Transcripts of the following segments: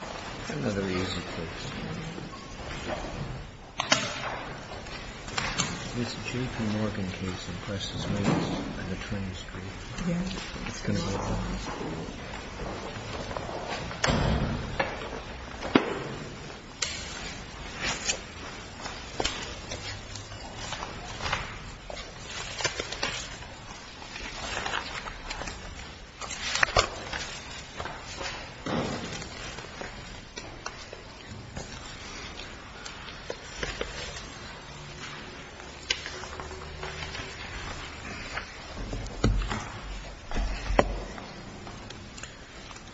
It's another easy fix. This JP Morgan case impresses me. It's on the 20th street. It's going to work for me.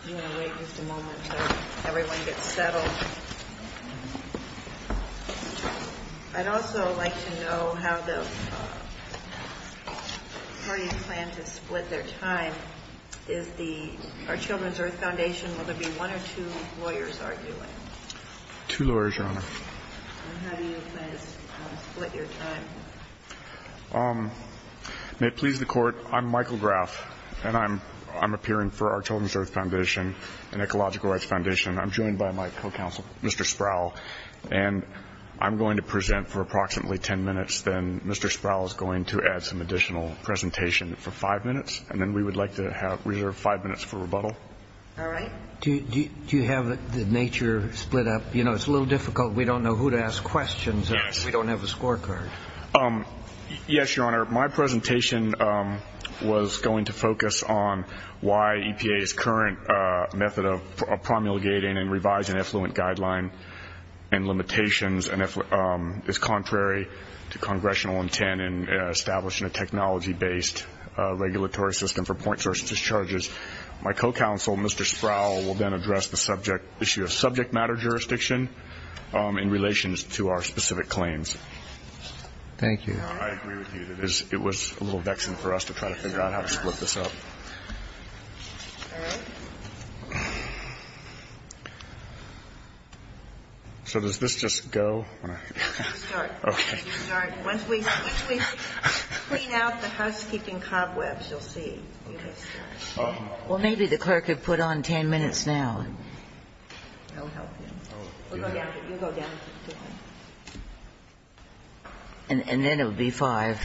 You want to wait just a moment until everyone gets settled. I'd also like to know how the parties plan to split their time. Is the Our Children's Earth Foundation, will there be one or two lawyers arguing? Two lawyers, Your Honor. And how do you plan to split your time? May it please the court, I'm Michael Graff, and I'm appearing for Our Children's Earth Foundation, an ecological rights foundation. I'm joined by my co-counsel, Mr. Sproul, and I'm going to present for approximately 10 minutes. Then Mr. Sproul is going to add some additional presentation for five minutes. And then we would like to reserve five minutes for rebuttal. All right. Do you have the nature split up? You know, it's a little difficult. We don't know who to ask questions of. We don't have a scorecard. Yes, Your Honor. Your Honor, my presentation was going to focus on why EPA's current method of promulgating and revising effluent guideline and limitations is contrary to congressional intent in establishing a technology-based regulatory system for point source discharges. My co-counsel, Mr. Sproul, will then address the issue of subject matter jurisdiction in relation to our specific claims. Thank you. Your Honor, I agree with you. It was a little vexing for us to try to figure out how to split this up. All right. So does this just go? You start. Okay. You start. Once we clean out the housekeeping cobwebs, you'll see. Okay. Well, maybe the clerk could put on 10 minutes now. I'll help you. We'll go down. You go down. And then it will be five.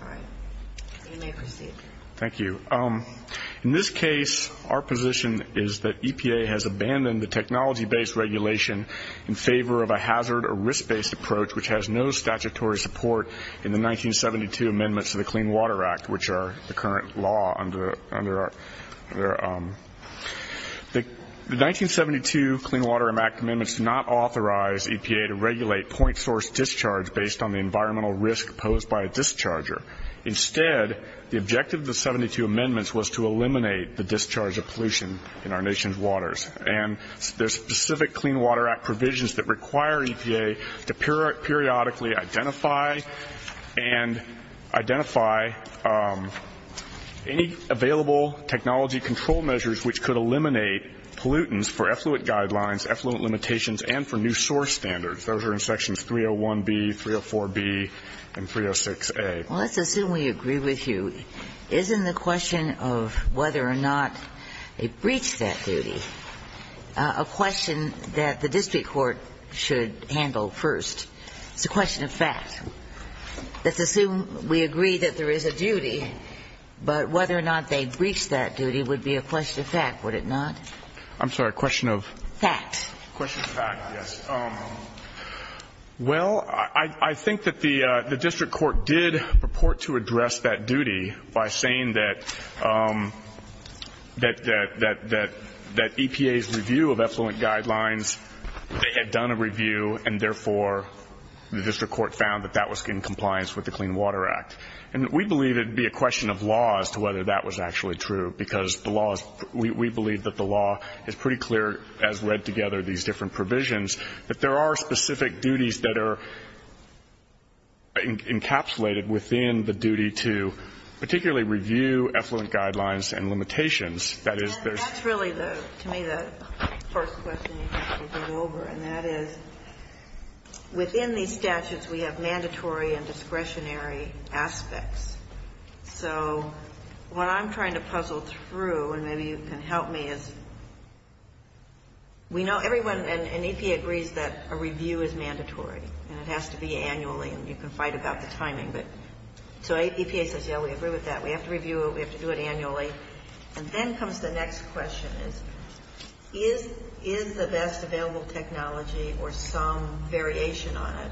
All right. You may proceed. Thank you. In this case, our position is that EPA has abandoned the technology-based regulation in favor of a hazard or risk-based approach, which has no statutory support in the 1972 amendments to the Clean Water Act, which are the current law. The 1972 Clean Water Act amendments do not authorize EPA to regulate point source discharge based on the environmental risk posed by a discharger. Instead, the objective of the 72 amendments was to eliminate the discharge of pollution in our nation's waters. And there's specific Clean Water Act provisions that require EPA to periodically identify and identify any available technology control measures which could eliminate pollutants for effluent guidelines, effluent limitations, and for new source standards. Those are in sections 301B, 304B, and 306A. Well, let's assume we agree with you. It's a question of duty. Isn't the question of whether or not they breached that duty a question that the district court should handle first? It's a question of fact. Let's assume we agree that there is a duty, but whether or not they breached that duty would be a question of fact, would it not? I'm sorry, a question of? Fact. A question of fact, yes. Well, I think that the district court did purport to address that duty by saying that EPA's review of effluent guidelines, they had done a review, and therefore the district court found that that was in compliance with the Clean Water Act. And we believe it would be a question of law as to whether that was actually true, because the law is, we believe that the law is pretty clear as read together these different provisions, that there are specific duties that are encapsulated within the duty to particularly review effluent guidelines and limitations. That is, there's. That's really, to me, the first question you have to go over, and that is, within these statutes, we have mandatory and discretionary aspects. So what I'm trying to puzzle through, and maybe you can help me, is we know everyone in EPA agrees that a review is mandatory, and it has to be annually, and you can fight about the timing. But so EPA says, yes, we agree with that. We have to review it. We have to do it annually. And then comes the next question is, is the best available technology or some variation on it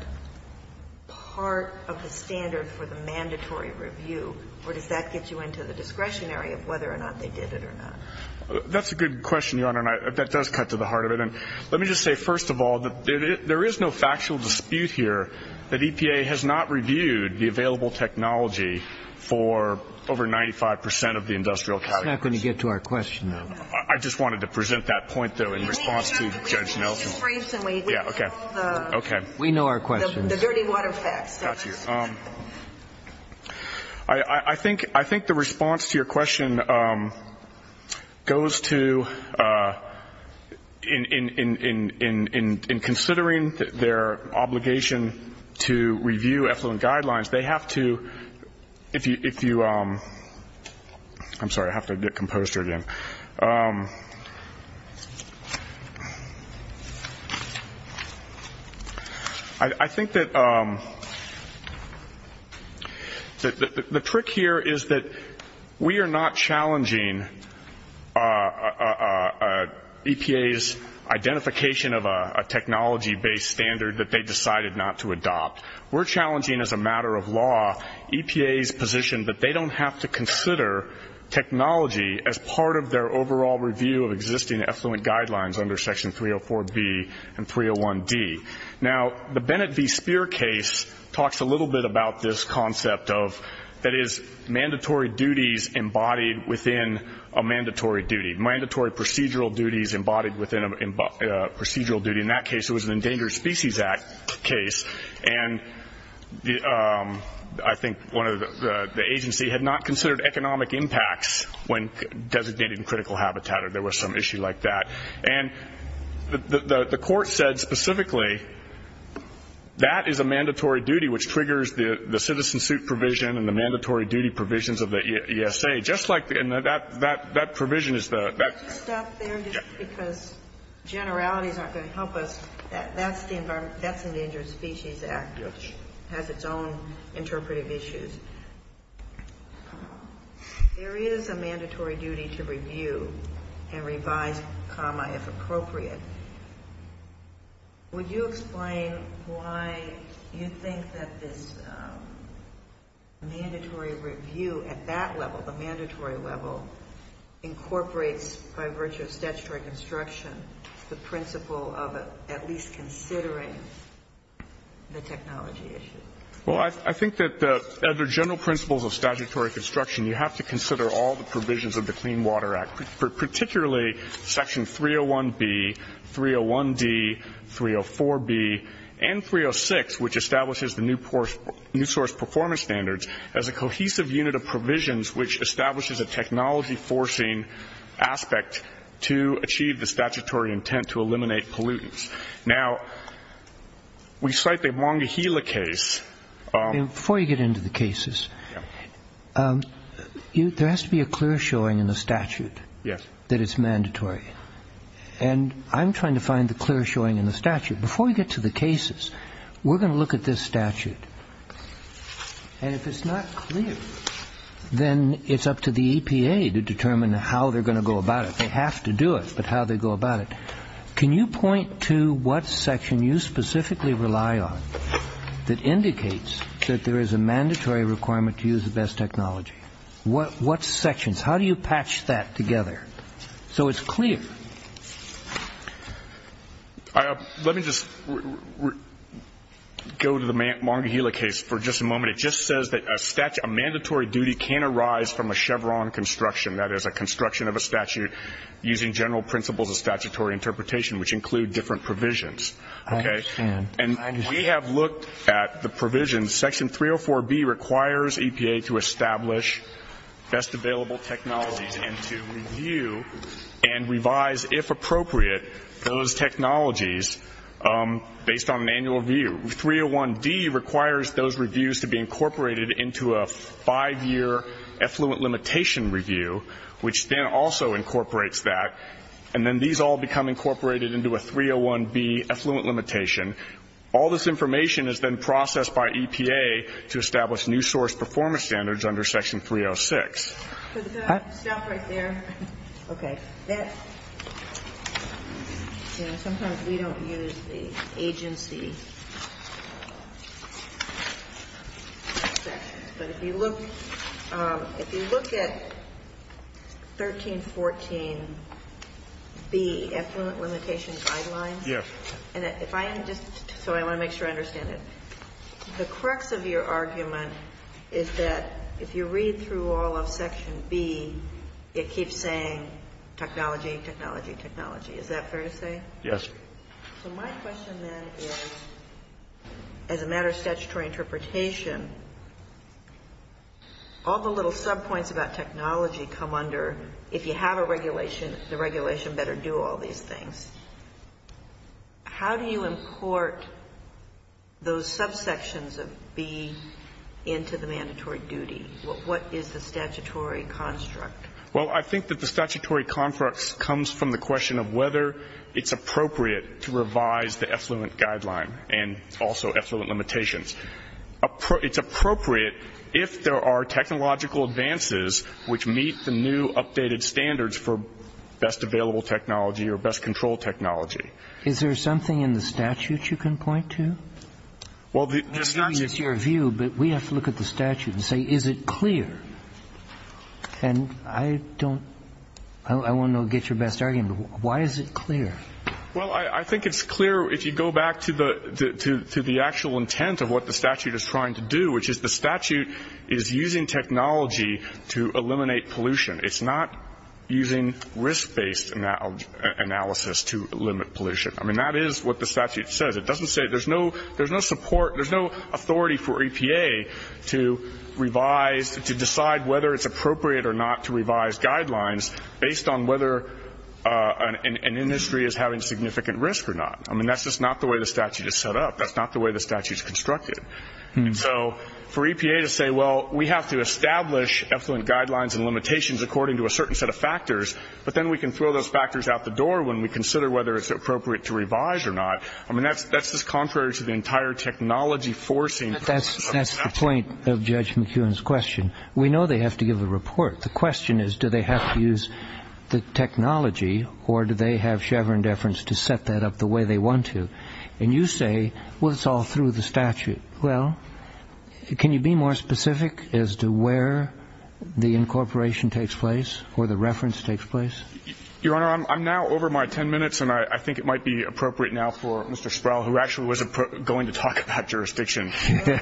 part of the standard for the mandatory review, or does that get you into the discretionary of whether or not they did it or not? That's a good question, Your Honor, and that does cut to the heart of it. And let me just say, first of all, there is no factual dispute here that EPA has not reviewed the available technology for over 95 percent of the industrial categories. We're not going to get to our question, though. I just wanted to present that point, though, in response to Judge Nelson. Yeah, okay. Okay. We know our question. The dirty water facts. Got you. I think the response to your question goes to in considering their obligation to review effluent guidelines, they have to, if you, I'm sorry, I have to get composter again. I think that the trick here is that we are not challenging EPA's identification of a technology-based standard that they decided not to adopt. We're challenging, as a matter of law, EPA's position that they don't have to consider technology as part of their overall review of existing effluent guidelines under Section 304B and 301D. Now, the Bennett v. Speer case talks a little bit about this concept of, that is, mandatory duties embodied within a mandatory duty. Mandatory procedural duties embodied within a procedural duty. In that case, it was an Endangered Species Act case. And I think one of the agency had not considered economic impacts when designated in critical habitat or there was some issue like that. And the court said specifically that is a mandatory duty which triggers the citizen suit provision and the mandatory duty provisions of the ESA. Just like that provision is the – Can I just stop there just because generalities aren't going to help us. That's the Endangered Species Act, which has its own interpretive issues. There is a mandatory duty to review and revise, if appropriate. Would you explain why you think that this mandatory review at that level, the mandatory level, incorporates, by virtue of statutory construction, the principle of at least considering the technology issue? Well, I think that under general principles of statutory construction, you have to consider all the provisions of the Clean Water Act, particularly Section 301B, 301D, 304B, and 306, which establishes the New Source Performance Standards as a cohesive unit of provisions which establishes a technology-forcing aspect to achieve the statutory intent to eliminate pollutants. Now, we cite the Wangahila case. Before you get into the cases, there has to be a clear showing in the statute that it's mandatory. And I'm trying to find the clear showing in the statute. Before we get to the cases, we're going to look at this statute. And if it's not clear, then it's up to the EPA to determine how they're going to go about it. They have to do it, but how they go about it. Can you point to what section you specifically rely on that indicates that there is a mandatory requirement to use the best technology? What sections? How do you patch that together so it's clear? Let me just go to the Wangahila case for just a moment. It just says that a mandatory duty can arise from a Chevron construction, that is a construction of a statute using general principles of statutory interpretation, which include different provisions. Okay? And we have looked at the provisions. Section 304B requires EPA to establish best available technologies and to review and revise, if appropriate, those technologies based on an annual review. 301D requires those reviews to be incorporated into a five-year effluent limitation review, which then also incorporates that, and then these all become incorporated into a 301B effluent limitation. All this information is then processed by EPA to establish new source performance standards under Section 306. Stop right there. Okay. Sometimes we don't use the agency sections, but if you look at 1314B, effluent limitation guidelines, and if I am just sorry, I want to make sure I understand it. The crux of your argument is that if you read through all of Section B, it keeps saying technology, technology, technology. Is that fair to say? Yes. So my question then is, as a matter of statutory interpretation, all the little subpoints about technology come under, if you have a regulation, the regulation better do all these things. How do you import those subsections of B into the mandatory duty? What is the statutory construct? Well, I think that the statutory construct comes from the question of whether it's appropriate to revise the effluent guideline and also effluent limitations. It's appropriate if there are technological advances which meet the new updated standards for best available technology or best control technology. Is there something in the statute you can point to? Well, the statute is your view, but we have to look at the statute and say, is it clear? And I don't – I want to get your best argument. Why is it clear? Well, I think it's clear if you go back to the actual intent of what the statute is trying to do, which is the statute is using technology to eliminate pollution. It's not using risk-based analysis to limit pollution. I mean, that is what the statute says. It doesn't say – there's no support, there's no authority for EPA to revise, to decide whether it's appropriate or not to revise guidelines based on whether an industry is having significant risk or not. I mean, that's just not the way the statute is set up. That's not the way the statute is constructed. And so for EPA to say, well, we have to establish effluent guidelines and limitations according to a certain set of factors, but then we can throw those factors out the door when we consider whether it's appropriate to revise or not, I mean, that's just contrary to the entire technology forcing of the statute. To the point of Judge McKeown's question, we know they have to give a report. The question is do they have to use the technology or do they have chevron deference to set that up the way they want to? And you say, well, it's all through the statute. Well, can you be more specific as to where the incorporation takes place or the reference takes place? Your Honor, I'm now over my 10 minutes, and I think it might be appropriate now for Mr. Sproul, who actually was going to talk about jurisdiction. The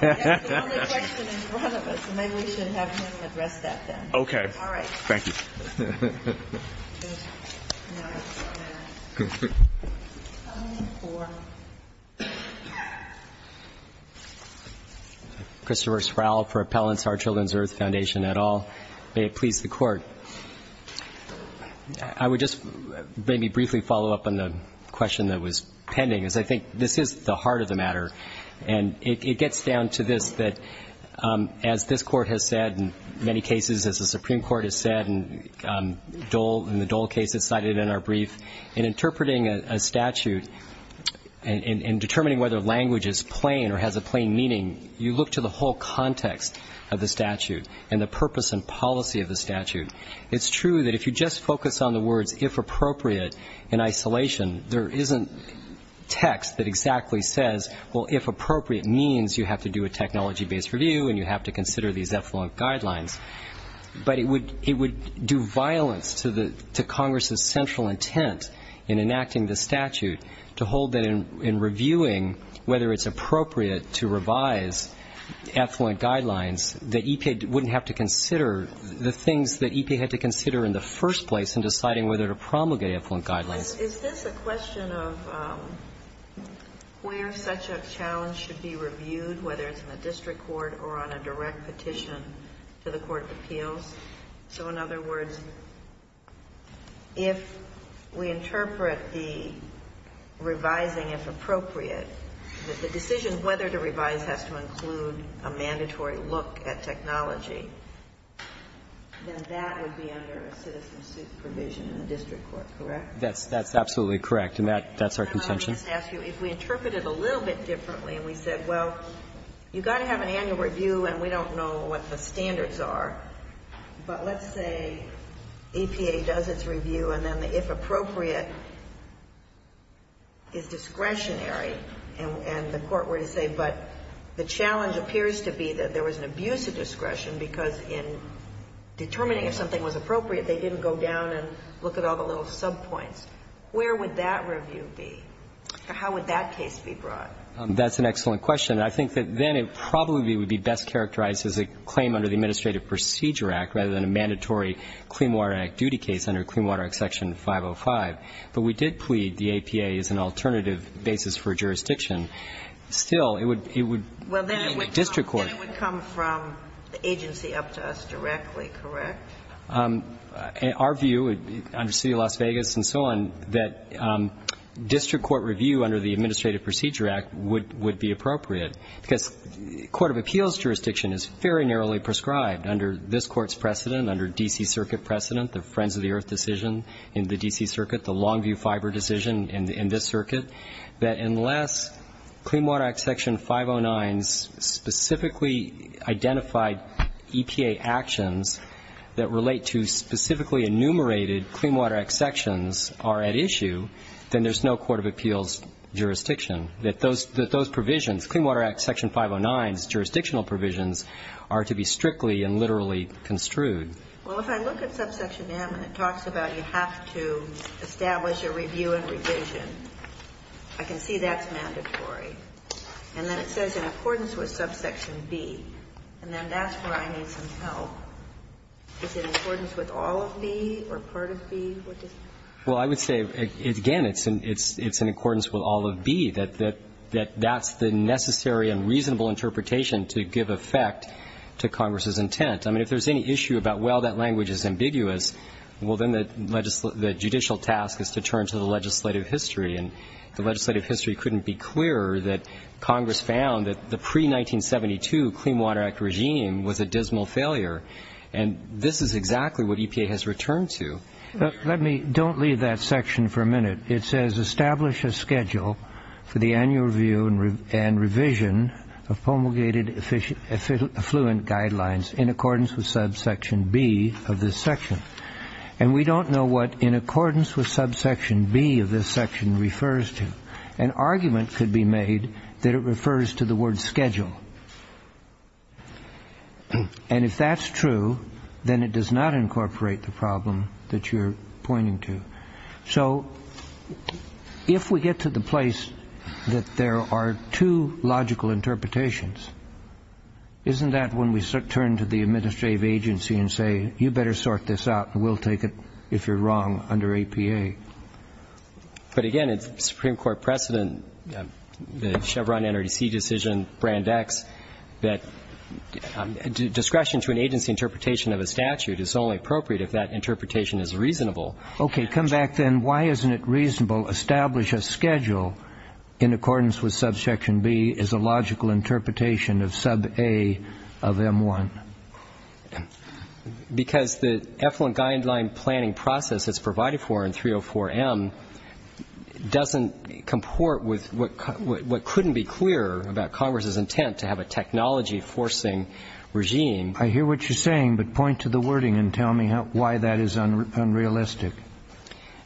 only question in front of us, and maybe we should have him address that then. Okay. All right. Thank you. Christopher Sproul for Appellants, Our Children's Earth Foundation et al. May it please the Court. I would just maybe briefly follow up on the question that was pending, as I think this is the heart of the matter, and it gets down to this, that as this Court has said in many cases, as the Supreme Court has said in the Dole case that's cited in our brief, in interpreting a statute and determining whether language is plain or has a plain meaning, you look to the whole context of the statute and the purpose and policy of the statute. It's true that if you just focus on the words, if appropriate, in isolation, there isn't text that exactly says, well, if appropriate means you have to do a technology-based review and you have to consider these effluent guidelines. But it would do violence to Congress's central intent in enacting the statute to hold that in reviewing whether it's appropriate to revise effluent guidelines, that EPA wouldn't have to consider the things that EPA had to consider in the first place in deciding whether to promulgate effluent guidelines. Is this a question of where such a challenge should be reviewed, whether it's in the district court or on a direct petition to the court of appeals? So in other words, if we interpret the revising as appropriate, that the decision whether to revise has to include a mandatory look at technology, then that would be under a citizen suit provision in the district court, correct? That's absolutely correct. And that's our contention. Can I just ask you, if we interpret it a little bit differently and we said, well, you've got to have an annual review and we don't know what the standards are, but let's say EPA does its review and then the if appropriate is discretionary, and the court were to say, but the challenge appears to be that there was an abuse of discretion because in determining if something was appropriate, they didn't go down and look at all the little subpoints, where would that review be? How would that case be brought? That's an excellent question. I think that then it probably would be best characterized as a claim under the Administrative Procedure Act rather than a mandatory Clean Water Act duty case under Clean Water Act Section 505. But we did plead the APA is an alternative basis for jurisdiction. Still, it would be in district court. Then it would come from the agency up to us directly, correct? Our view, under the City of Las Vegas and so on, that district court review under the Administrative Procedure Act would be appropriate, because court of appeals jurisdiction is very narrowly prescribed under this Court's precedent, under D.C. Circuit, the Longview Fiber decision in this circuit, that unless Clean Water Act Section 509's specifically identified EPA actions that relate to specifically enumerated Clean Water Act sections are at issue, then there's no court of appeals jurisdiction, that those provisions, Clean Water Act Section 509's jurisdictional provisions are to be strictly and literally construed. Well, if I look at subsection M and it talks about you have to establish a review and revision, I can see that's mandatory. And then it says in accordance with subsection B. And then that's where I need some help. Is it in accordance with all of B or part of B? Well, I would say, again, it's in accordance with all of B, that that's the necessary and reasonable interpretation to give effect to Congress's intent. I mean, if there's any issue about, well, that language is ambiguous, well, then the judicial task is to turn to the legislative history. And the legislative history couldn't be clearer that Congress found that the pre-1972 Clean Water Act regime was a dismal failure. And this is exactly what EPA has returned to. Let me don't leave that section for a minute. It says establish a schedule for the annual review and revision of promulgated affluent guidelines in accordance with subsection B of this section. And we don't know what in accordance with subsection B of this section refers to. An argument could be made that it refers to the word schedule. And if that's true, then it does not incorporate the problem that you're pointing to. So if we get to the place that there are two logical interpretations, isn't that when we turn to the administrative agency and say, you better sort this out and we'll take it if you're wrong under EPA? But, again, it's Supreme Court precedent, the Chevron NRDC decision, Brand X, that discretion to an agency interpretation of a statute is only appropriate if that interpretation is reasonable. Okay. Come back then. Why isn't it reasonable establish a schedule in accordance with subsection B is a logical interpretation of sub A of M1? Because the affluent guideline planning process as provided for in 304M doesn't comport with what couldn't be clearer about Congress's intent to have a technology forcing regime. I hear what you're saying, but point to the wording and tell me why that is unrealistic.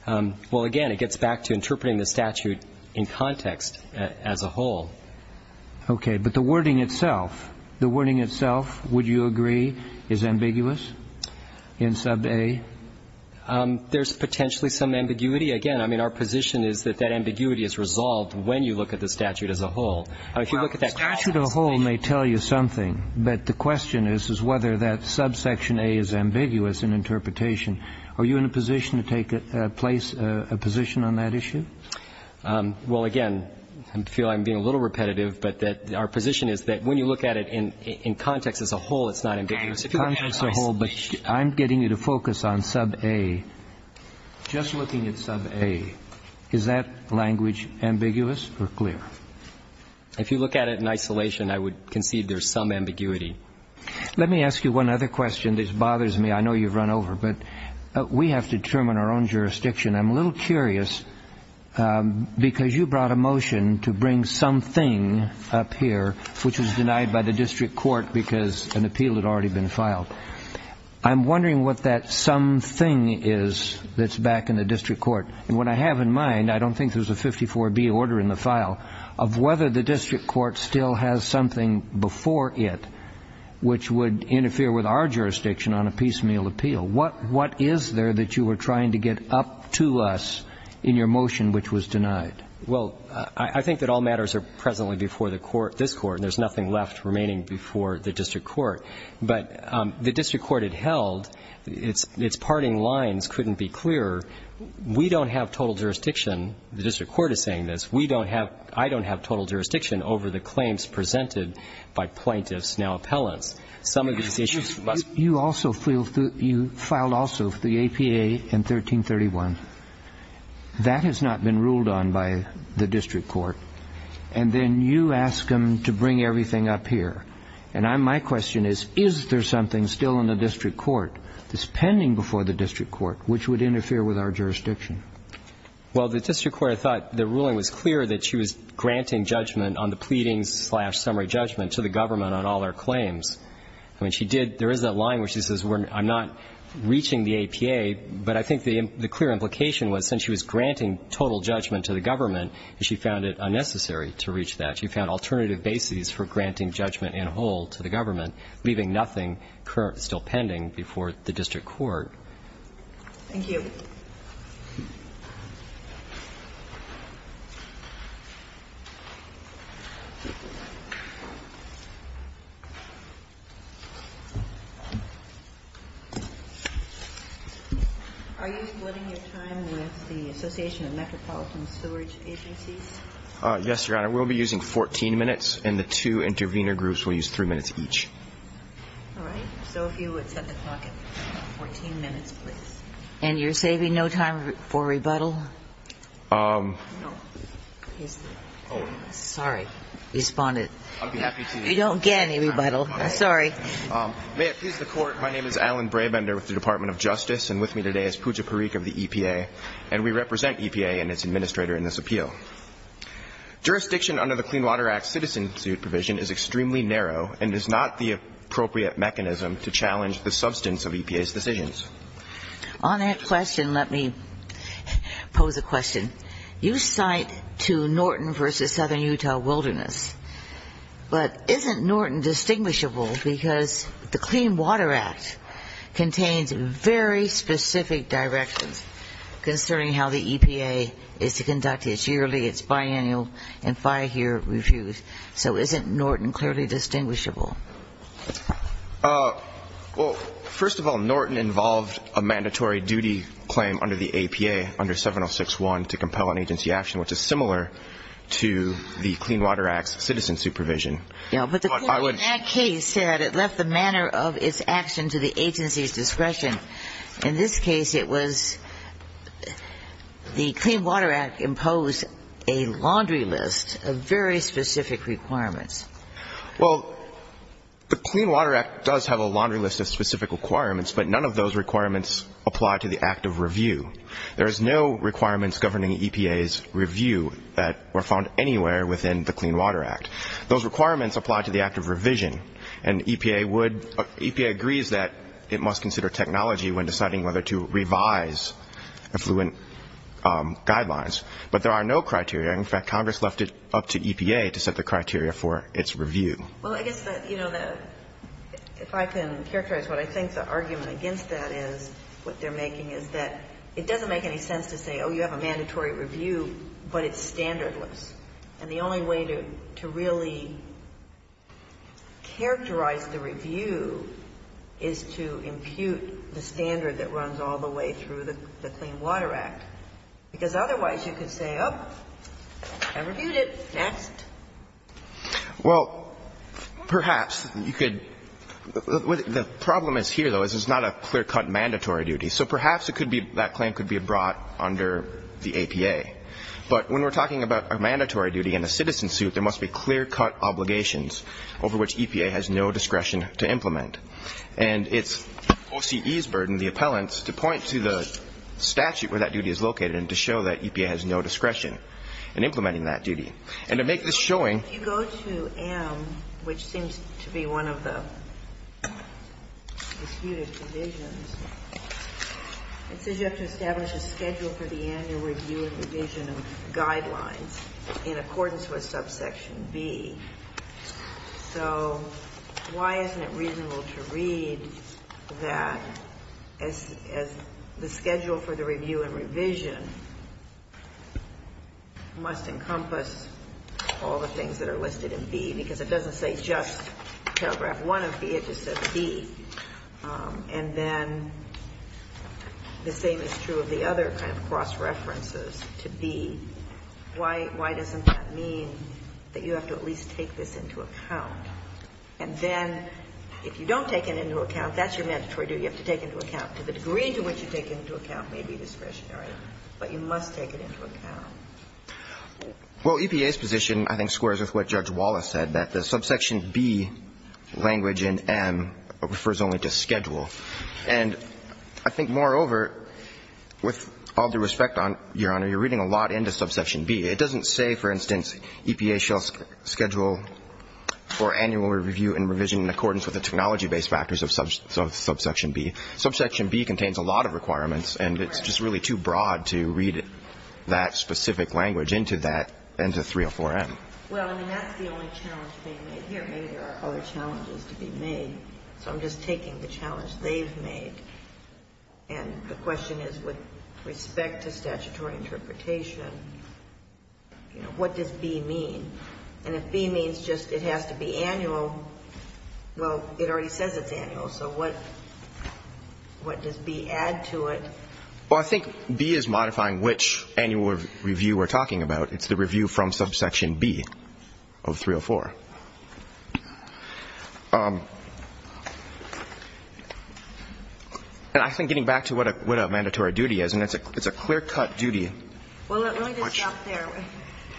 Well, again, it gets back to interpreting the statute in context as a whole. Okay. But the wording itself, the wording itself, would you agree, is ambiguous in sub A? There's potentially some ambiguity. Again, I mean, our position is that that ambiguity is resolved when you look at the statute as a whole. Now, the statute as a whole may tell you something, but the question is whether that subsection A is ambiguous in interpretation. Are you in a position to take a place, a position on that issue? Well, again, I feel I'm being a little repetitive, but our position is that when you look at it in context as a whole, it's not ambiguous. In context as a whole, but I'm getting you to focus on sub A. Just looking at sub A, is that language ambiguous or clear? If you look at it in isolation, I would concede there's some ambiguity. Let me ask you one other question. This bothers me. I know you've run over, but we have to determine our own jurisdiction. I'm a little curious because you brought a motion to bring something up here, which was denied by the district court because an appeal had already been filed. I'm wondering what that something is that's back in the district court. And what I have in mind, I don't think there's a 54B order in the file, of whether the district court still has something before it which would interfere with our jurisdiction on a piecemeal appeal. What is there that you were trying to get up to us in your motion which was denied? Well, I think that all matters are presently before the court, this Court, and there's nothing left remaining before the district court. But the district court had held, its parting lines couldn't be clearer. We don't have total jurisdiction. The district court is saying this. We don't have, I don't have total jurisdiction over the claims presented by plaintiffs now appellants. Some of these issues must be. You also filed also the APA in 1331. That has not been ruled on by the district court. And then you ask them to bring everything up here. And my question is, is there something still in the district court that's pending before the district court which would interfere with our jurisdiction? Well, the district court, I thought the ruling was clear that she was granting judgment on the pleadings slash summary judgment to the government on all our claims. I mean, she did – there is that line where she says I'm not reaching the APA, but I think the clear implication was since she was granting total judgment to the government, she found it unnecessary to reach that. She found alternative bases for granting judgment in whole to the government, leaving nothing still pending before the district court. Thank you. Are you splitting your time with the Association of Metropolitan Sewerage Agencies? Yes, Your Honor. We'll be using 14 minutes, and the two intervener groups will use three minutes each. All right. So if you would set the clock at 14 minutes, please. And you're saving no time for rebuttal? No. Oh. Sorry. Responded. I'd be happy to. You don't get any rebuttal. Sorry. May it please the Court, my name is Alan Brabender with the Department of Justice, and with me today is Pooja Parikh of the EPA, and we represent EPA and its administrator in this appeal. Jurisdiction under the Clean Water Act citizen suit provision is extremely narrow and is not the appropriate mechanism to challenge the substance of EPA's decisions. On that question, let me pose a question. You cite to Norton v. Southern Utah Wilderness, but isn't Norton distinguishable because the Clean Water Act contains very specific directions concerning how the EPA is to conduct its yearly, its biannual, and five-year reviews. So isn't Norton clearly distinguishable? Well, first of all, Norton involved a mandatory duty claim under the EPA under 706-1 to compel an agency action, which is similar to the Clean Water Act's citizen supervision. But the Court in that case said it left the manner of its action to the agency's discretion. In this case, it was the Clean Water Act imposed a laundry list of very specific requirements. Well, the Clean Water Act does have a laundry list of specific requirements, but none of those requirements apply to the act of review. There is no requirements governing EPA's review that were found anywhere within the Clean Water Act. Those requirements apply to the act of revision, and EPA would – EPA agrees that it must consider technology when deciding whether to revise affluent guidelines. But there are no criteria. In fact, Congress left it up to EPA to set the criteria for its review. Well, I guess that, you know, if I can characterize what I think the argument against that is, what they're making is that it doesn't make any sense to say, oh, you have a mandatory review, but it's standardless. And the only way to really characterize the review is to impute the standard that runs all the way through the Clean Water Act. Because otherwise you could say, oh, I reviewed it, next. Well, perhaps you could – the problem is here, though, is it's not a clear-cut mandatory duty. So perhaps it could be – that claim could be brought under the APA. But when we're talking about a mandatory duty in a citizen suit, there must be clear-cut obligations over which EPA has no discretion to implement. And it's OCE's burden, the appellants, to point to the statute where that duty is located and to show that EPA has no discretion in implementing that duty. And to make this showing – If you go to M, which seems to be one of the disputed provisions, it says you have to establish a schedule for the annual review and revision of guidelines in accordance with subsection B. So why isn't it reasonable to read that as the schedule for the revision must encompass all the things that are listed in B? Because it doesn't say just paragraph 1 of B. It just says B. And then the same is true of the other kind of cross-references to B. Why doesn't that mean that you have to at least take this into account? And then if you don't take it into account, that's your mandatory duty you have to take into account. To the degree to which you take it into account may be discretionary, but you must take it into account. Well, EPA's position I think squares with what Judge Wallace said, that the subsection B language in M refers only to schedule. And I think, moreover, with all due respect, Your Honor, you're reading a lot into subsection B. It doesn't say, for instance, EPA shall schedule for annual review and revision in accordance with the technology-based factors of subsection B. Subsection B contains a lot of requirements, and it's just really too broad to read that specific language into that, into 304M. Well, I mean, that's the only challenge being made here. Maybe there are other challenges to be made. So I'm just taking the challenge they've made. And the question is, with respect to statutory interpretation, you know, what does B mean? And if B means just it has to be annual, well, it already says it's annual, so what does B add to it? Well, I think B is modifying which annual review we're talking about. It's the review from subsection B of 304. And I think getting back to what a mandatory duty is, and it's a clear-cut duty. Well, let me just stop there.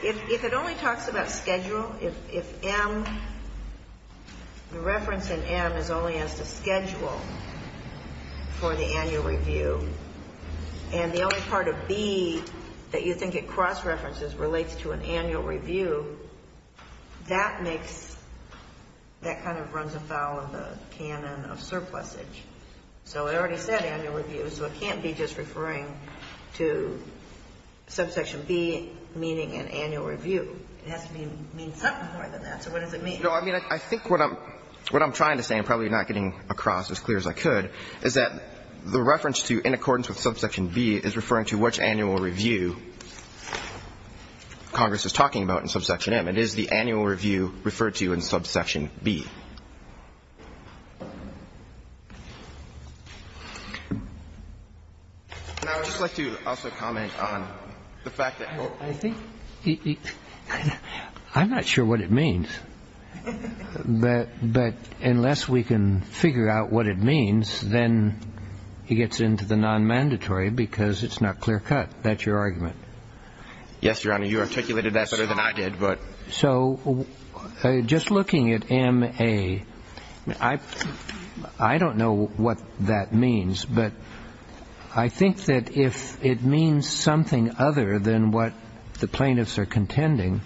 If it only talks about schedule, if M, the reference in M is only as to schedule, for the annual review, and the only part of B that you think it cross-references relates to an annual review, that makes, that kind of runs afoul of the canon of surplusage. So it already said annual review, so it can't be just referring to subsection B meaning an annual review. It has to mean something more than that. So what does it mean? No, I mean, I think what I'm trying to say, I'm probably not getting across as clear as I could, is that the reference to in accordance with subsection B is referring to which annual review Congress is talking about in subsection M. It is the annual review referred to in subsection B. And I would just like to also comment on the fact that we're all going to have to But unless we can figure out what it means, then he gets into the non-mandatory because it's not clear-cut. That's your argument. Yes, Your Honor. You articulated that better than I did. So just looking at M, A, I don't know what that means, but I think that if it means than what the plaintiffs are contending,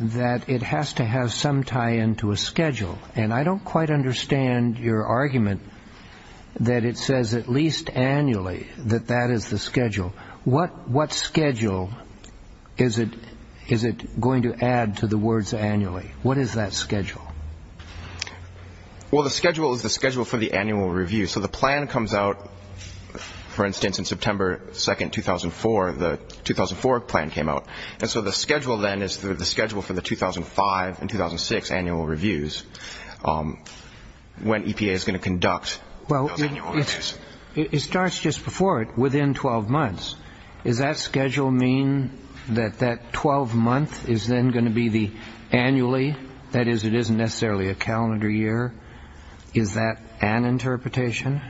that it has to have some tie-in to a schedule. And I don't quite understand your argument that it says at least annually that that is the schedule. What schedule is it going to add to the words annually? What is that schedule? Well, the schedule is the schedule for the annual review. So the plan comes out, for instance, in September 2nd, 2004. The 2004 plan came out. And so the schedule then is the schedule for the 2005 and 2006 annual reviews when EPA is going to conduct those annual reviews. Well, it starts just before it, within 12 months. Does that schedule mean that that 12-month is then going to be the annually? That is, it isn't necessarily a calendar year. Is that an interpretation?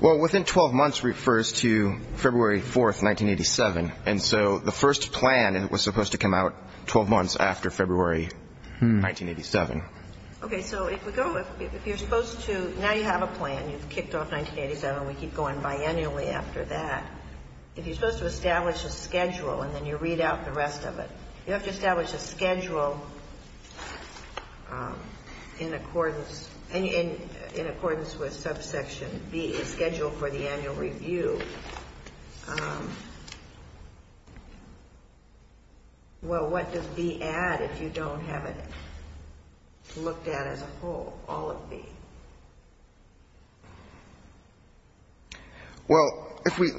Well, within 12 months refers to February 4th, 1987. And so the first plan was supposed to come out 12 months after February 1987. Okay. So if we go, if you're supposed to, now you have a plan. You've kicked off 1987. We keep going biannually after that. If you're supposed to establish a schedule and then you read out the rest of it, you have to establish a schedule. In accordance with subsection B, the schedule for the annual review, well, what does B add if you don't have it looked at as a whole, all of B? Well, if we,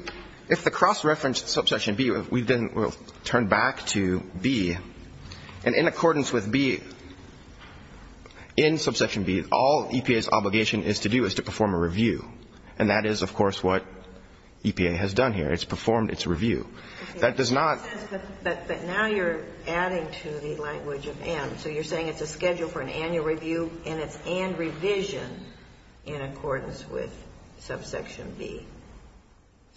if the cross-referenced subsection B, we then will turn back to B. And in accordance with B, in subsection B, all EPA's obligation is to do is to perform a review. And that is, of course, what EPA has done here. It's performed its review. That does not. But now you're adding to the language of N. So you're saying it's a schedule for an annual review and it's and revision in accordance with subsection B.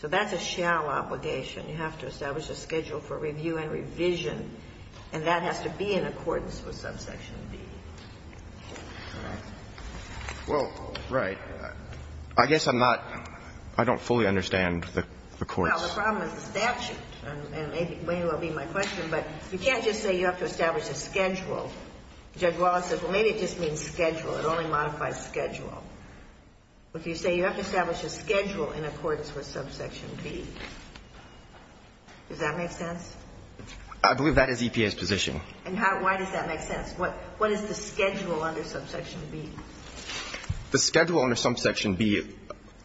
So that's a shall obligation. You have to establish a schedule for review and revision, and that has to be in accordance with subsection B. All right. Well, right. I guess I'm not, I don't fully understand the courts. Well, the problem is the statute, and maybe that will be my question. But you can't just say you have to establish a schedule. Judge Wallace said, well, maybe it just means schedule. It only modifies schedule. If you say you have to establish a schedule in accordance with subsection B, does that make sense? I believe that is EPA's position. And how, why does that make sense? What is the schedule under subsection B? The schedule under subsection B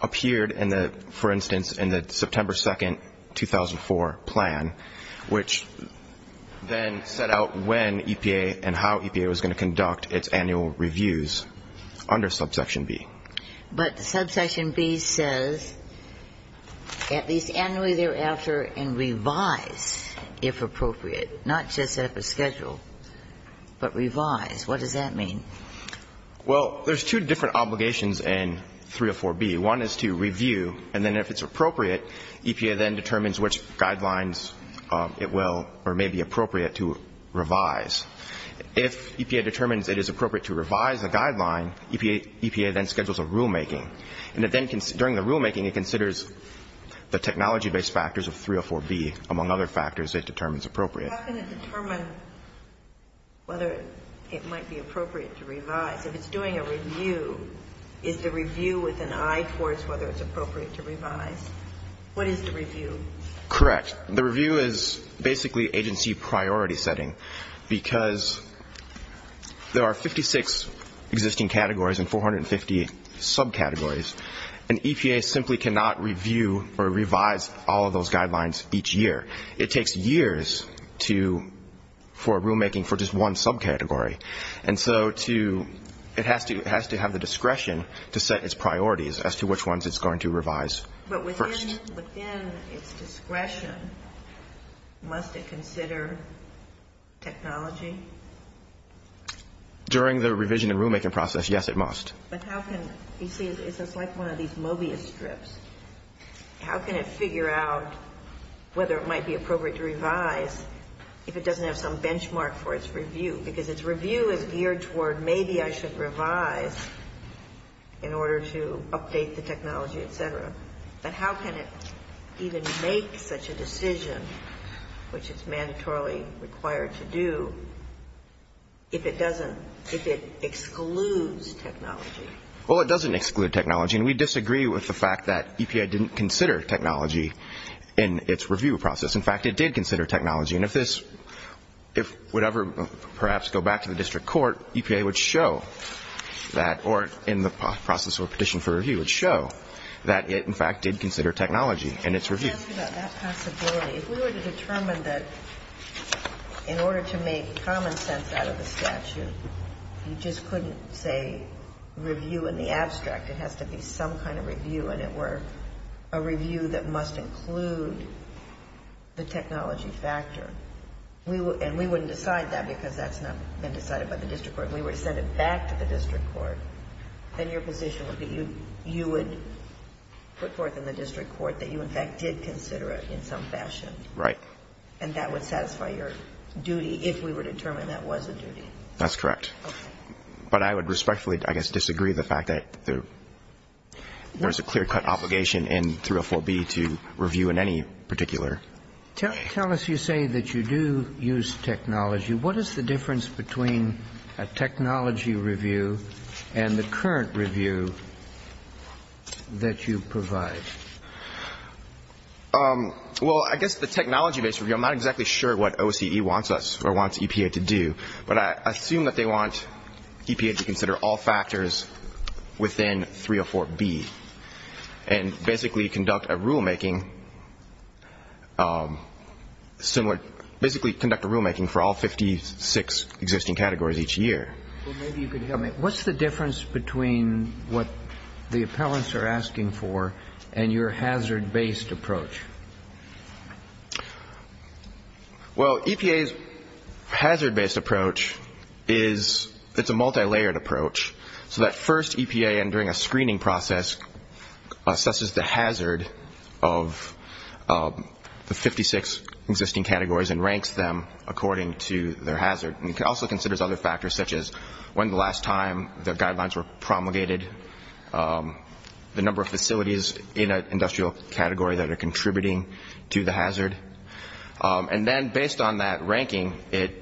appeared in the, for instance, in the September 2nd, 2004 plan, which then set out when EPA and how EPA was going to conduct its annual reviews under subsection B. But subsection B says at least annually thereafter and revise if appropriate, not just set up a schedule, but revise. What does that mean? Well, there's two different obligations in 304B. One is to review, and then if it's appropriate, EPA then determines which guidelines it will or may be appropriate to revise. If EPA determines it is appropriate to revise a guideline, EPA then schedules a rulemaking. And then during the rulemaking, it considers the technology-based factors of 304B, among other factors it determines appropriate. So it's not going to determine whether it might be appropriate to revise. If it's doing a review, is the review with an eye towards whether it's appropriate to revise? What is the review? Correct. The review is basically agency priority setting because there are 56 existing categories and 450 subcategories, and EPA simply cannot review or revise all of those guidelines each year. It takes years for rulemaking for just one subcategory. And so it has to have the discretion to set its priorities as to which ones it's going to revise first. But within its discretion, must it consider technology? During the revision and rulemaking process, yes, it must. But how can you see it's just like one of these Mobius strips. How can it figure out whether it might be appropriate to revise if it doesn't have some benchmark for its review? Because its review is geared toward maybe I should revise in order to update the technology, et cetera. But how can it even make such a decision, which it's mandatorily required to do, if it doesn't If it excludes technology? Well, it doesn't exclude technology. And we disagree with the fact that EPA didn't consider technology in its review process. In fact, it did consider technology. And if this — if whatever, perhaps, go back to the district court, EPA would show that or in the process of a petition for review would show that it, in fact, did consider technology in its review. Let me ask you about that possibility. If we were to determine that in order to make common sense out of the statute, you just couldn't say review in the abstract. It has to be some kind of review, and it were a review that must include the technology factor. And we wouldn't decide that because that's not been decided by the district court. If we were to send it back to the district court, then your position would be you would put forth in the district court that you, in fact, did consider it in some fashion. Right. And that would satisfy your duty if we were to determine that was a duty. That's correct. But I would respectfully, I guess, disagree with the fact that there is a clear-cut obligation in 304B to review in any particular. Tell us, you say that you do use technology. What is the difference between a technology review and the current review that you provide? Well, I guess the technology-based review, I'm not exactly sure what OCE wants us or wants EPA to do. But I assume that they want EPA to consider all factors within 304B and basically conduct a rulemaking similar to basically conduct a rulemaking for all 56 existing categories each year. Well, maybe you could help me. What's the difference between what the appellants are asking for and your hazard-based approach? Well, EPA's hazard-based approach is it's a multilayered approach. So that first EPA, during a screening process, assesses the hazard of the 56 existing categories and ranks them according to their hazard. It also considers other factors such as when the last time the guidelines were promulgated, the number of facilities in an industrial category that are contributing to the hazard. And then based on that ranking, it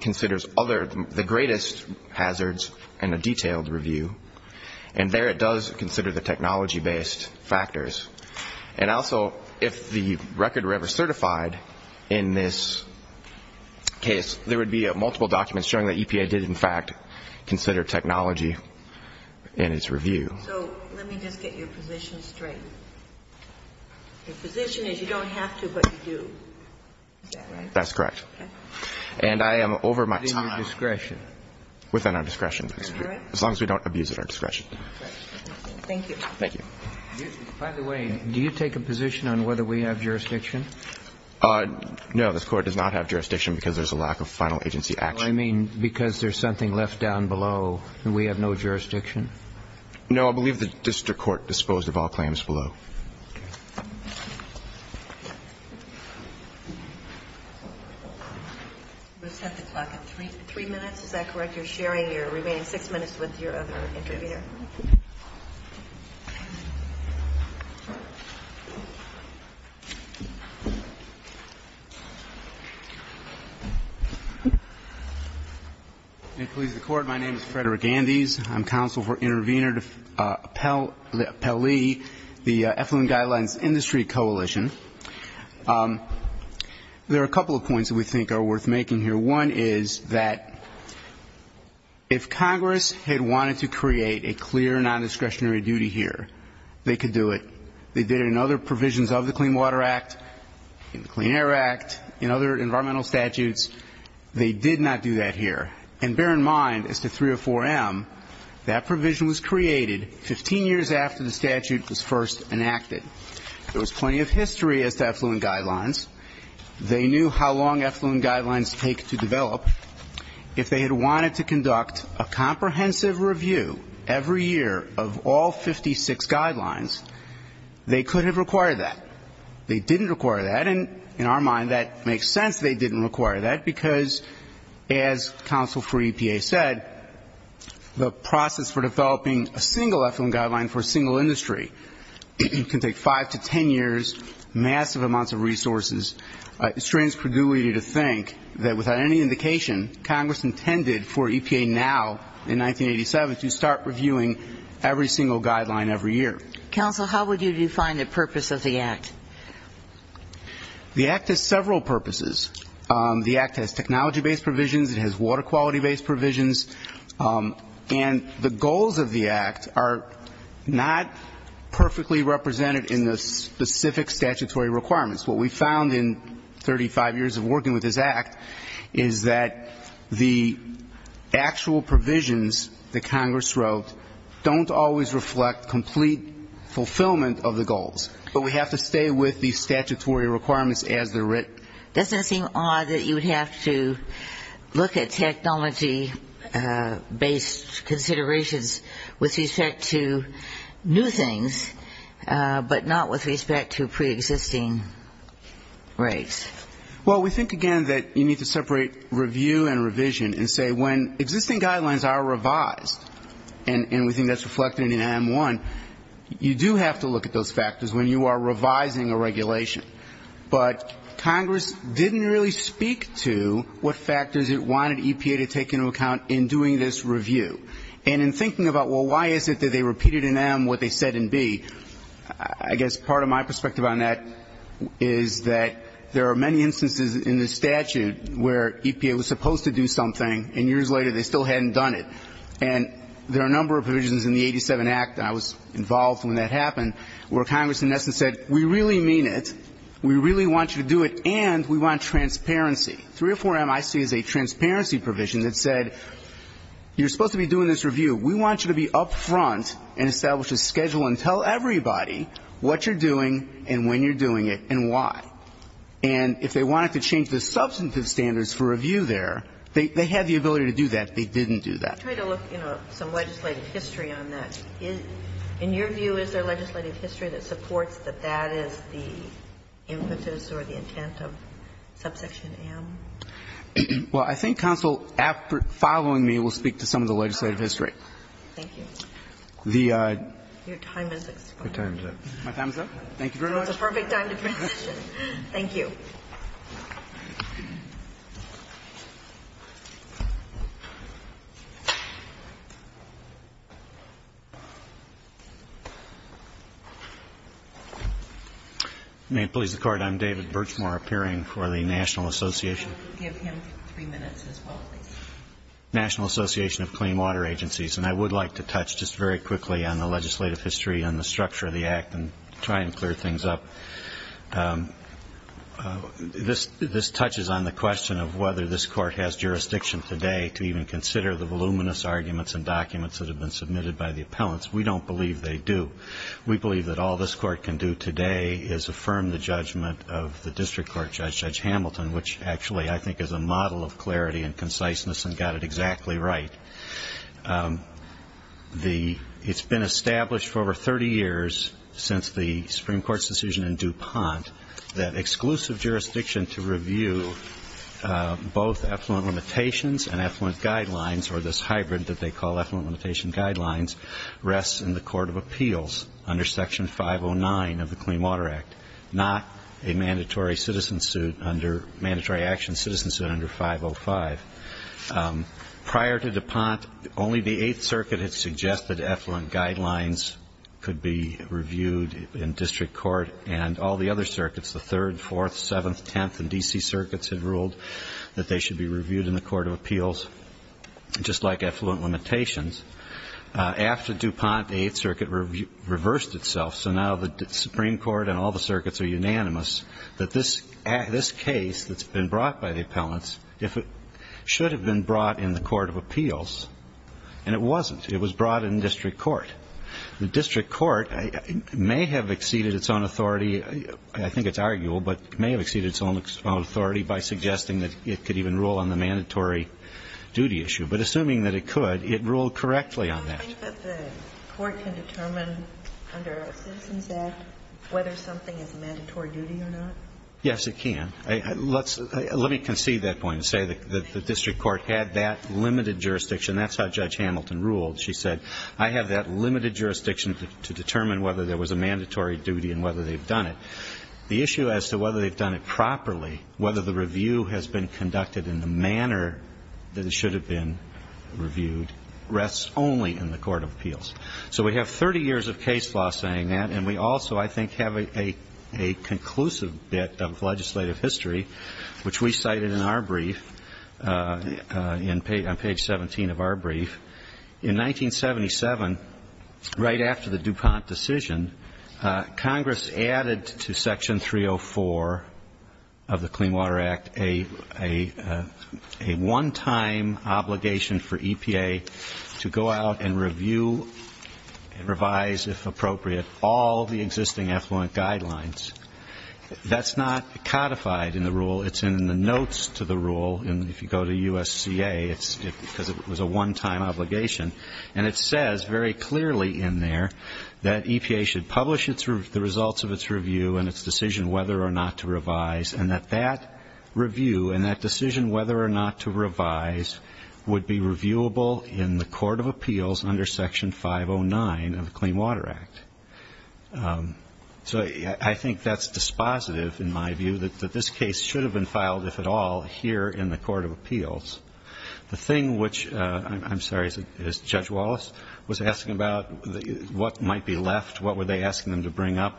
considers the greatest hazards in a detailed review. And there it does consider the technology-based factors. And also, if the record were ever certified in this case, there would be multiple documents showing that EPA did, in fact, consider technology in its review. So let me just get your position straight. Your position is you don't have to, but you do. Is that right? That's correct. Okay. And I am over my time. Within your discretion. Within our discretion. Is that correct? As long as we don't abuse it at our discretion. Okay. Thank you. Thank you. By the way, do you take a position on whether we have jurisdiction? No. This Court does not have jurisdiction because there's a lack of final agency action. I mean, because there's something left down below and we have no jurisdiction? No. I believe the district court disposed of all claims below. Okay. We'll set the clock at 3 minutes. Is that correct? You're sharing your remaining 6 minutes with your other interviewer. May it please the Court. My name is Frederick Andes. I'm counsel for Intervenor to Appellee, the Effluent Guidelines Industry Coalition. There are a couple of points that we think are worth making here. One is that if Congress had wanted to create a clear non-discretionary duty here, they could do it. They did it in other provisions of the Clean Water Act, in the Clean Air Act, in other environmental statutes. They did not do that here. And bear in mind, as to 304M, that provision was created 15 years after the statute was first enacted. There was plenty of history as to effluent guidelines. They knew how long effluent guidelines take to develop. If they had wanted to conduct a comprehensive review every year of all 56 guidelines, they could have required that. They didn't require that. And in our mind, that makes sense they didn't require that, because as counsel for EPA said, the process for developing a single effluent guideline for a single industry can take 5 to 10 years, massive amounts of resources. It strains credulity to think that without any indication, Congress intended for EPA now, in 1987, to start reviewing every single guideline every year. Counsel, how would you define the purpose of the Act? The Act has several purposes. The Act has technology-based provisions. It has water quality-based provisions. And the goals of the Act are not perfectly represented in the specific statutory requirements. What we found in 35 years of working with this Act is that the actual provisions that Congress wrote don't always reflect complete fulfillment of the goals, but we have to stay with the statutory requirements as they're written. But doesn't it seem odd that you would have to look at technology-based considerations with respect to new things, but not with respect to preexisting rights? Well, we think, again, that you need to separate review and revision and say when existing guidelines are revised, and we think that's reflected in M1, you do have to look at those factors when you are revising a regulation. But Congress didn't really speak to what factors it wanted EPA to take into account in doing this review. And in thinking about, well, why is it that they repeated in M what they said in B, I guess part of my perspective on that is that there are many instances in the statute where EPA was supposed to do something and years later they still hadn't done it. And there are a number of provisions in the 87 Act, and I was involved when that happened, where Congress in essence said we really mean it, we really want you to do it, and we want transparency. 304M, I see, is a transparency provision that said you're supposed to be doing this review. We want you to be up front and establish a schedule and tell everybody what you're doing and when you're doing it and why. And if they wanted to change the substantive standards for review there, they had the ability to do that. They didn't do that. I try to look, you know, some legislative history on that. In your view, is there legislative history that supports that that is the impetus or the intent of subsection M? Well, I think counsel following me will speak to some of the legislative history. Thank you. Your time is up. My time is up? Thank you very much. It's a perfect time to transition. Thank you. Thank you. May it please the Court, I'm David Birchmore, appearing for the National Association. Give him three minutes as well, please. National Association of Clean Water Agencies, and I would like to touch just very quickly on the legislative history and the structure of the Act and try and clear things up. This touches on the question of whether this Court has jurisdiction today to even consider the voluminous arguments and documents that have been submitted by the appellants. We don't believe they do. We believe that all this Court can do today is affirm the judgment of the district court judge, Judge Hamilton, which actually I think is a model of clarity and conciseness and got it exactly right. It's been established for over 30 years since the Supreme Court's decision in DuPont that exclusive jurisdiction to review both affluent limitations and affluent guidelines, or this hybrid that they call affluent limitation guidelines, rests in the Court of Appeals under Section 509 of the Clean Water Act, not a mandatory action citizen suit under 505. Prior to DuPont, only the Eighth Circuit had suggested affluent guidelines could be reviewed in district court, and all the other circuits, the Third, Fourth, Seventh, Tenth, and D.C. Circuits had ruled that they should be reviewed in the Court of Appeals, just like affluent limitations. After DuPont, the Eighth Circuit reversed itself, so now the Supreme Court and all the circuits are unanimous that this case that's been brought by the appellants, if it should have been brought in the Court of Appeals, and it wasn't. It was brought in district court. The district court may have exceeded its own authority. I think it's arguable, but it may have exceeded its own authority by suggesting that it could even rule on the mandatory duty issue. But assuming that it could, it ruled correctly on that. Do you think that the court can determine under a Citizens Act whether something is a mandatory duty or not? Yes, it can. Let me concede that point and say that the district court had that limited jurisdiction. That's how Judge Hamilton ruled. She said, I have that limited jurisdiction to determine whether there was a mandatory duty and whether they've done it. The issue as to whether they've done it properly, whether the review has been conducted in the manner that it should have been reviewed, rests only in the Court of Appeals. So we have 30 years of case law saying that, and we also, I think, have a conclusive bit of legislative history, which we cited in our brief on page 17 of our brief. In 1977, right after the DuPont decision, Congress added to Section 304 of the Clean Water Act a one-time obligation for EPA to go out and review and revise, if appropriate, all the existing effluent guidelines. That's not codified in the rule. It's in the notes to the rule. And if you go to USCA, it's because it was a one-time obligation. And it says very clearly in there that EPA should publish the results of its review and its decision whether or not to revise, and that that review and that decision whether or not to revise would be reviewable in the Court of Appeals under Section 509 of the Clean Water Act. So I think that's dispositive, in my view, that this case should have been filed, if at all, here in the Court of Appeals. The thing which, I'm sorry, is Judge Wallace was asking about what might be left, what were they asking them to bring up?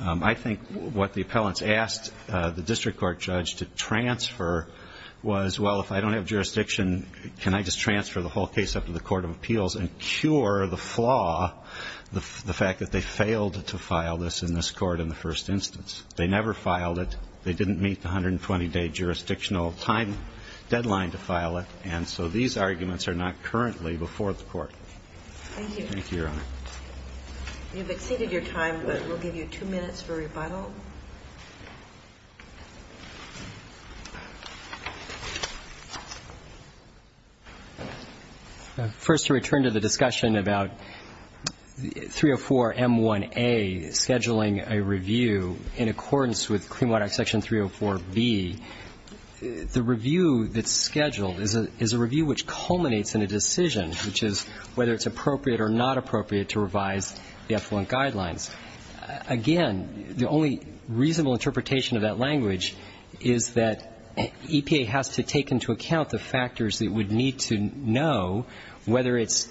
I think what the appellants asked the district court judge to transfer was, well, if I don't have jurisdiction, can I just transfer the whole case up to the Court of Appeals and cure the flaw, the fact that they failed to file this in this Court in the first instance. They never filed it. They didn't meet the 120-day jurisdictional time deadline to file it. And so these arguments are not currently before the Court. Thank you. Thank you, Your Honor. You've exceeded your time, but we'll give you two minutes for rebuttal. First, to return to the discussion about 304m1a scheduling a review in accordance with Clean Water Act Section 304b, the review that's scheduled is a review which culminates in a decision, which is whether it's appropriate or not appropriate to revise the affluent guidelines. Again, the only reasonable interpretation of that language is that EPA has to take into account the factors that it would need to know whether its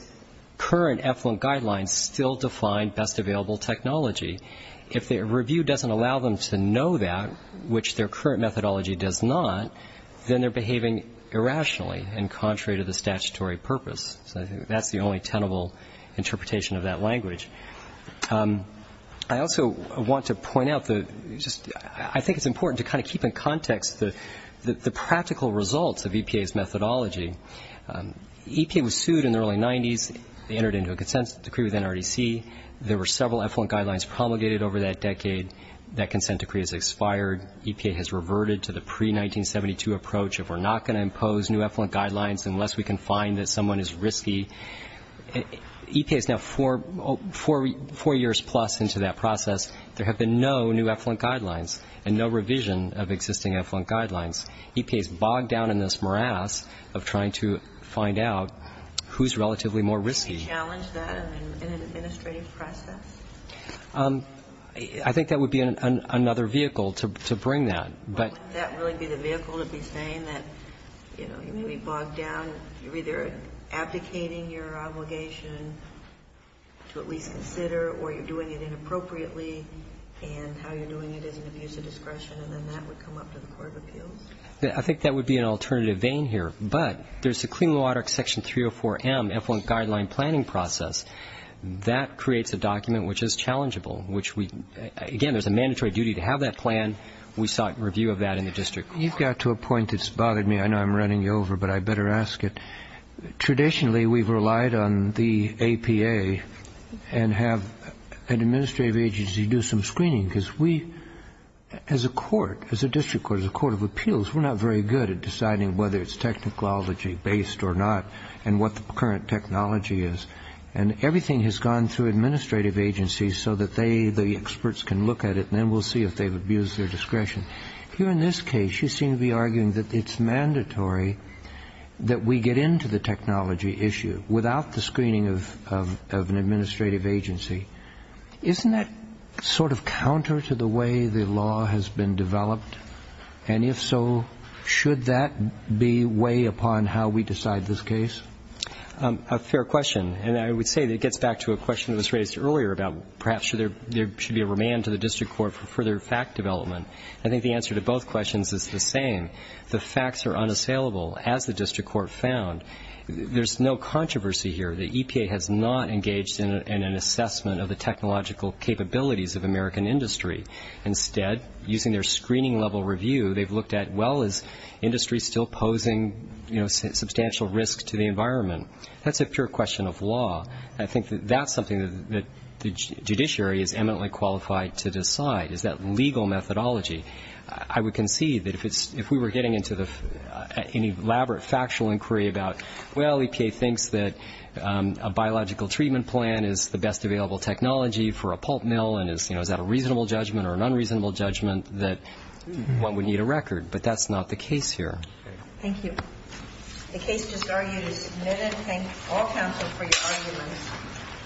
current affluent guidelines still define best available technology. If the review doesn't allow them to know that, which their current methodology does not, then they're behaving irrationally and contrary to the statutory purpose. So I think that's the only tenable interpretation of that language. I also want to point out the just ‑‑ I think it's important to kind of keep in context the practical results of EPA's methodology. EPA was sued in the early 90s. They entered into a consent decree with NRDC. There were several affluent guidelines promulgated over that decade. That consent decree has expired. EPA has reverted to the pre‑1972 approach of we're not going to impose new affluent guidelines unless we can find that someone is risky. EPA is now four years plus into that process. There have been no new affluent guidelines and no revision of existing affluent guidelines. EPA is bogged down in this morass of trying to find out who's relatively more risky. Do you challenge that in an administrative process? I think that would be another vehicle to bring that. Wouldn't that really be the vehicle to be saying that, you know, you may be bogged down, you're either abdicating your obligation to at least consider or you're doing it inappropriately and how you're doing it is an abuse of discretion, and then that would come up to the court of appeals? I think that would be an alternative vein here. But there's the Clean Water Section 304M Affluent Guideline Planning Process. That creates a document which is challengeable, which we ‑‑ again, there's a mandatory duty to have that plan. We sought review of that in the district court. You've got to a point that's bothered me. I know I'm running you over, but I better ask it. Traditionally, we've relied on the APA and have an administrative agency do some screening because we, as a court, as a district court, as a court of appeals, we're not very good at deciding whether it's technology based or not and what the current technology is. And everything has gone through administrative agencies so that they, the experts, can look at it and then we'll see if they've abused their discretion. Here in this case, you seem to be arguing that it's mandatory that we get into the technology issue without the screening of an administrative agency. Isn't that sort of counter to the way the law has been developed? And if so, should that be way upon how we decide this case? A fair question, and I would say that it gets back to a question that was raised earlier about perhaps there should be a remand to the district court for further fact development. I think the answer to both questions is the same. The facts are unassailable, as the district court found. There's no controversy here. The EPA has not engaged in an assessment of the technological capabilities of American industry. Why is industry still posing substantial risk to the environment? That's a pure question of law. I think that that's something that the judiciary is eminently qualified to decide, is that legal methodology. I would concede that if we were getting into an elaborate factual inquiry about, well, EPA thinks that a biological treatment plan is the best available technology for a pulp mill, and is that a reasonable judgment or an unreasonable judgment, that one would need a record. But that's not the case here. Thank you. The case just argued is submitted. Thank all counsel for your arguments.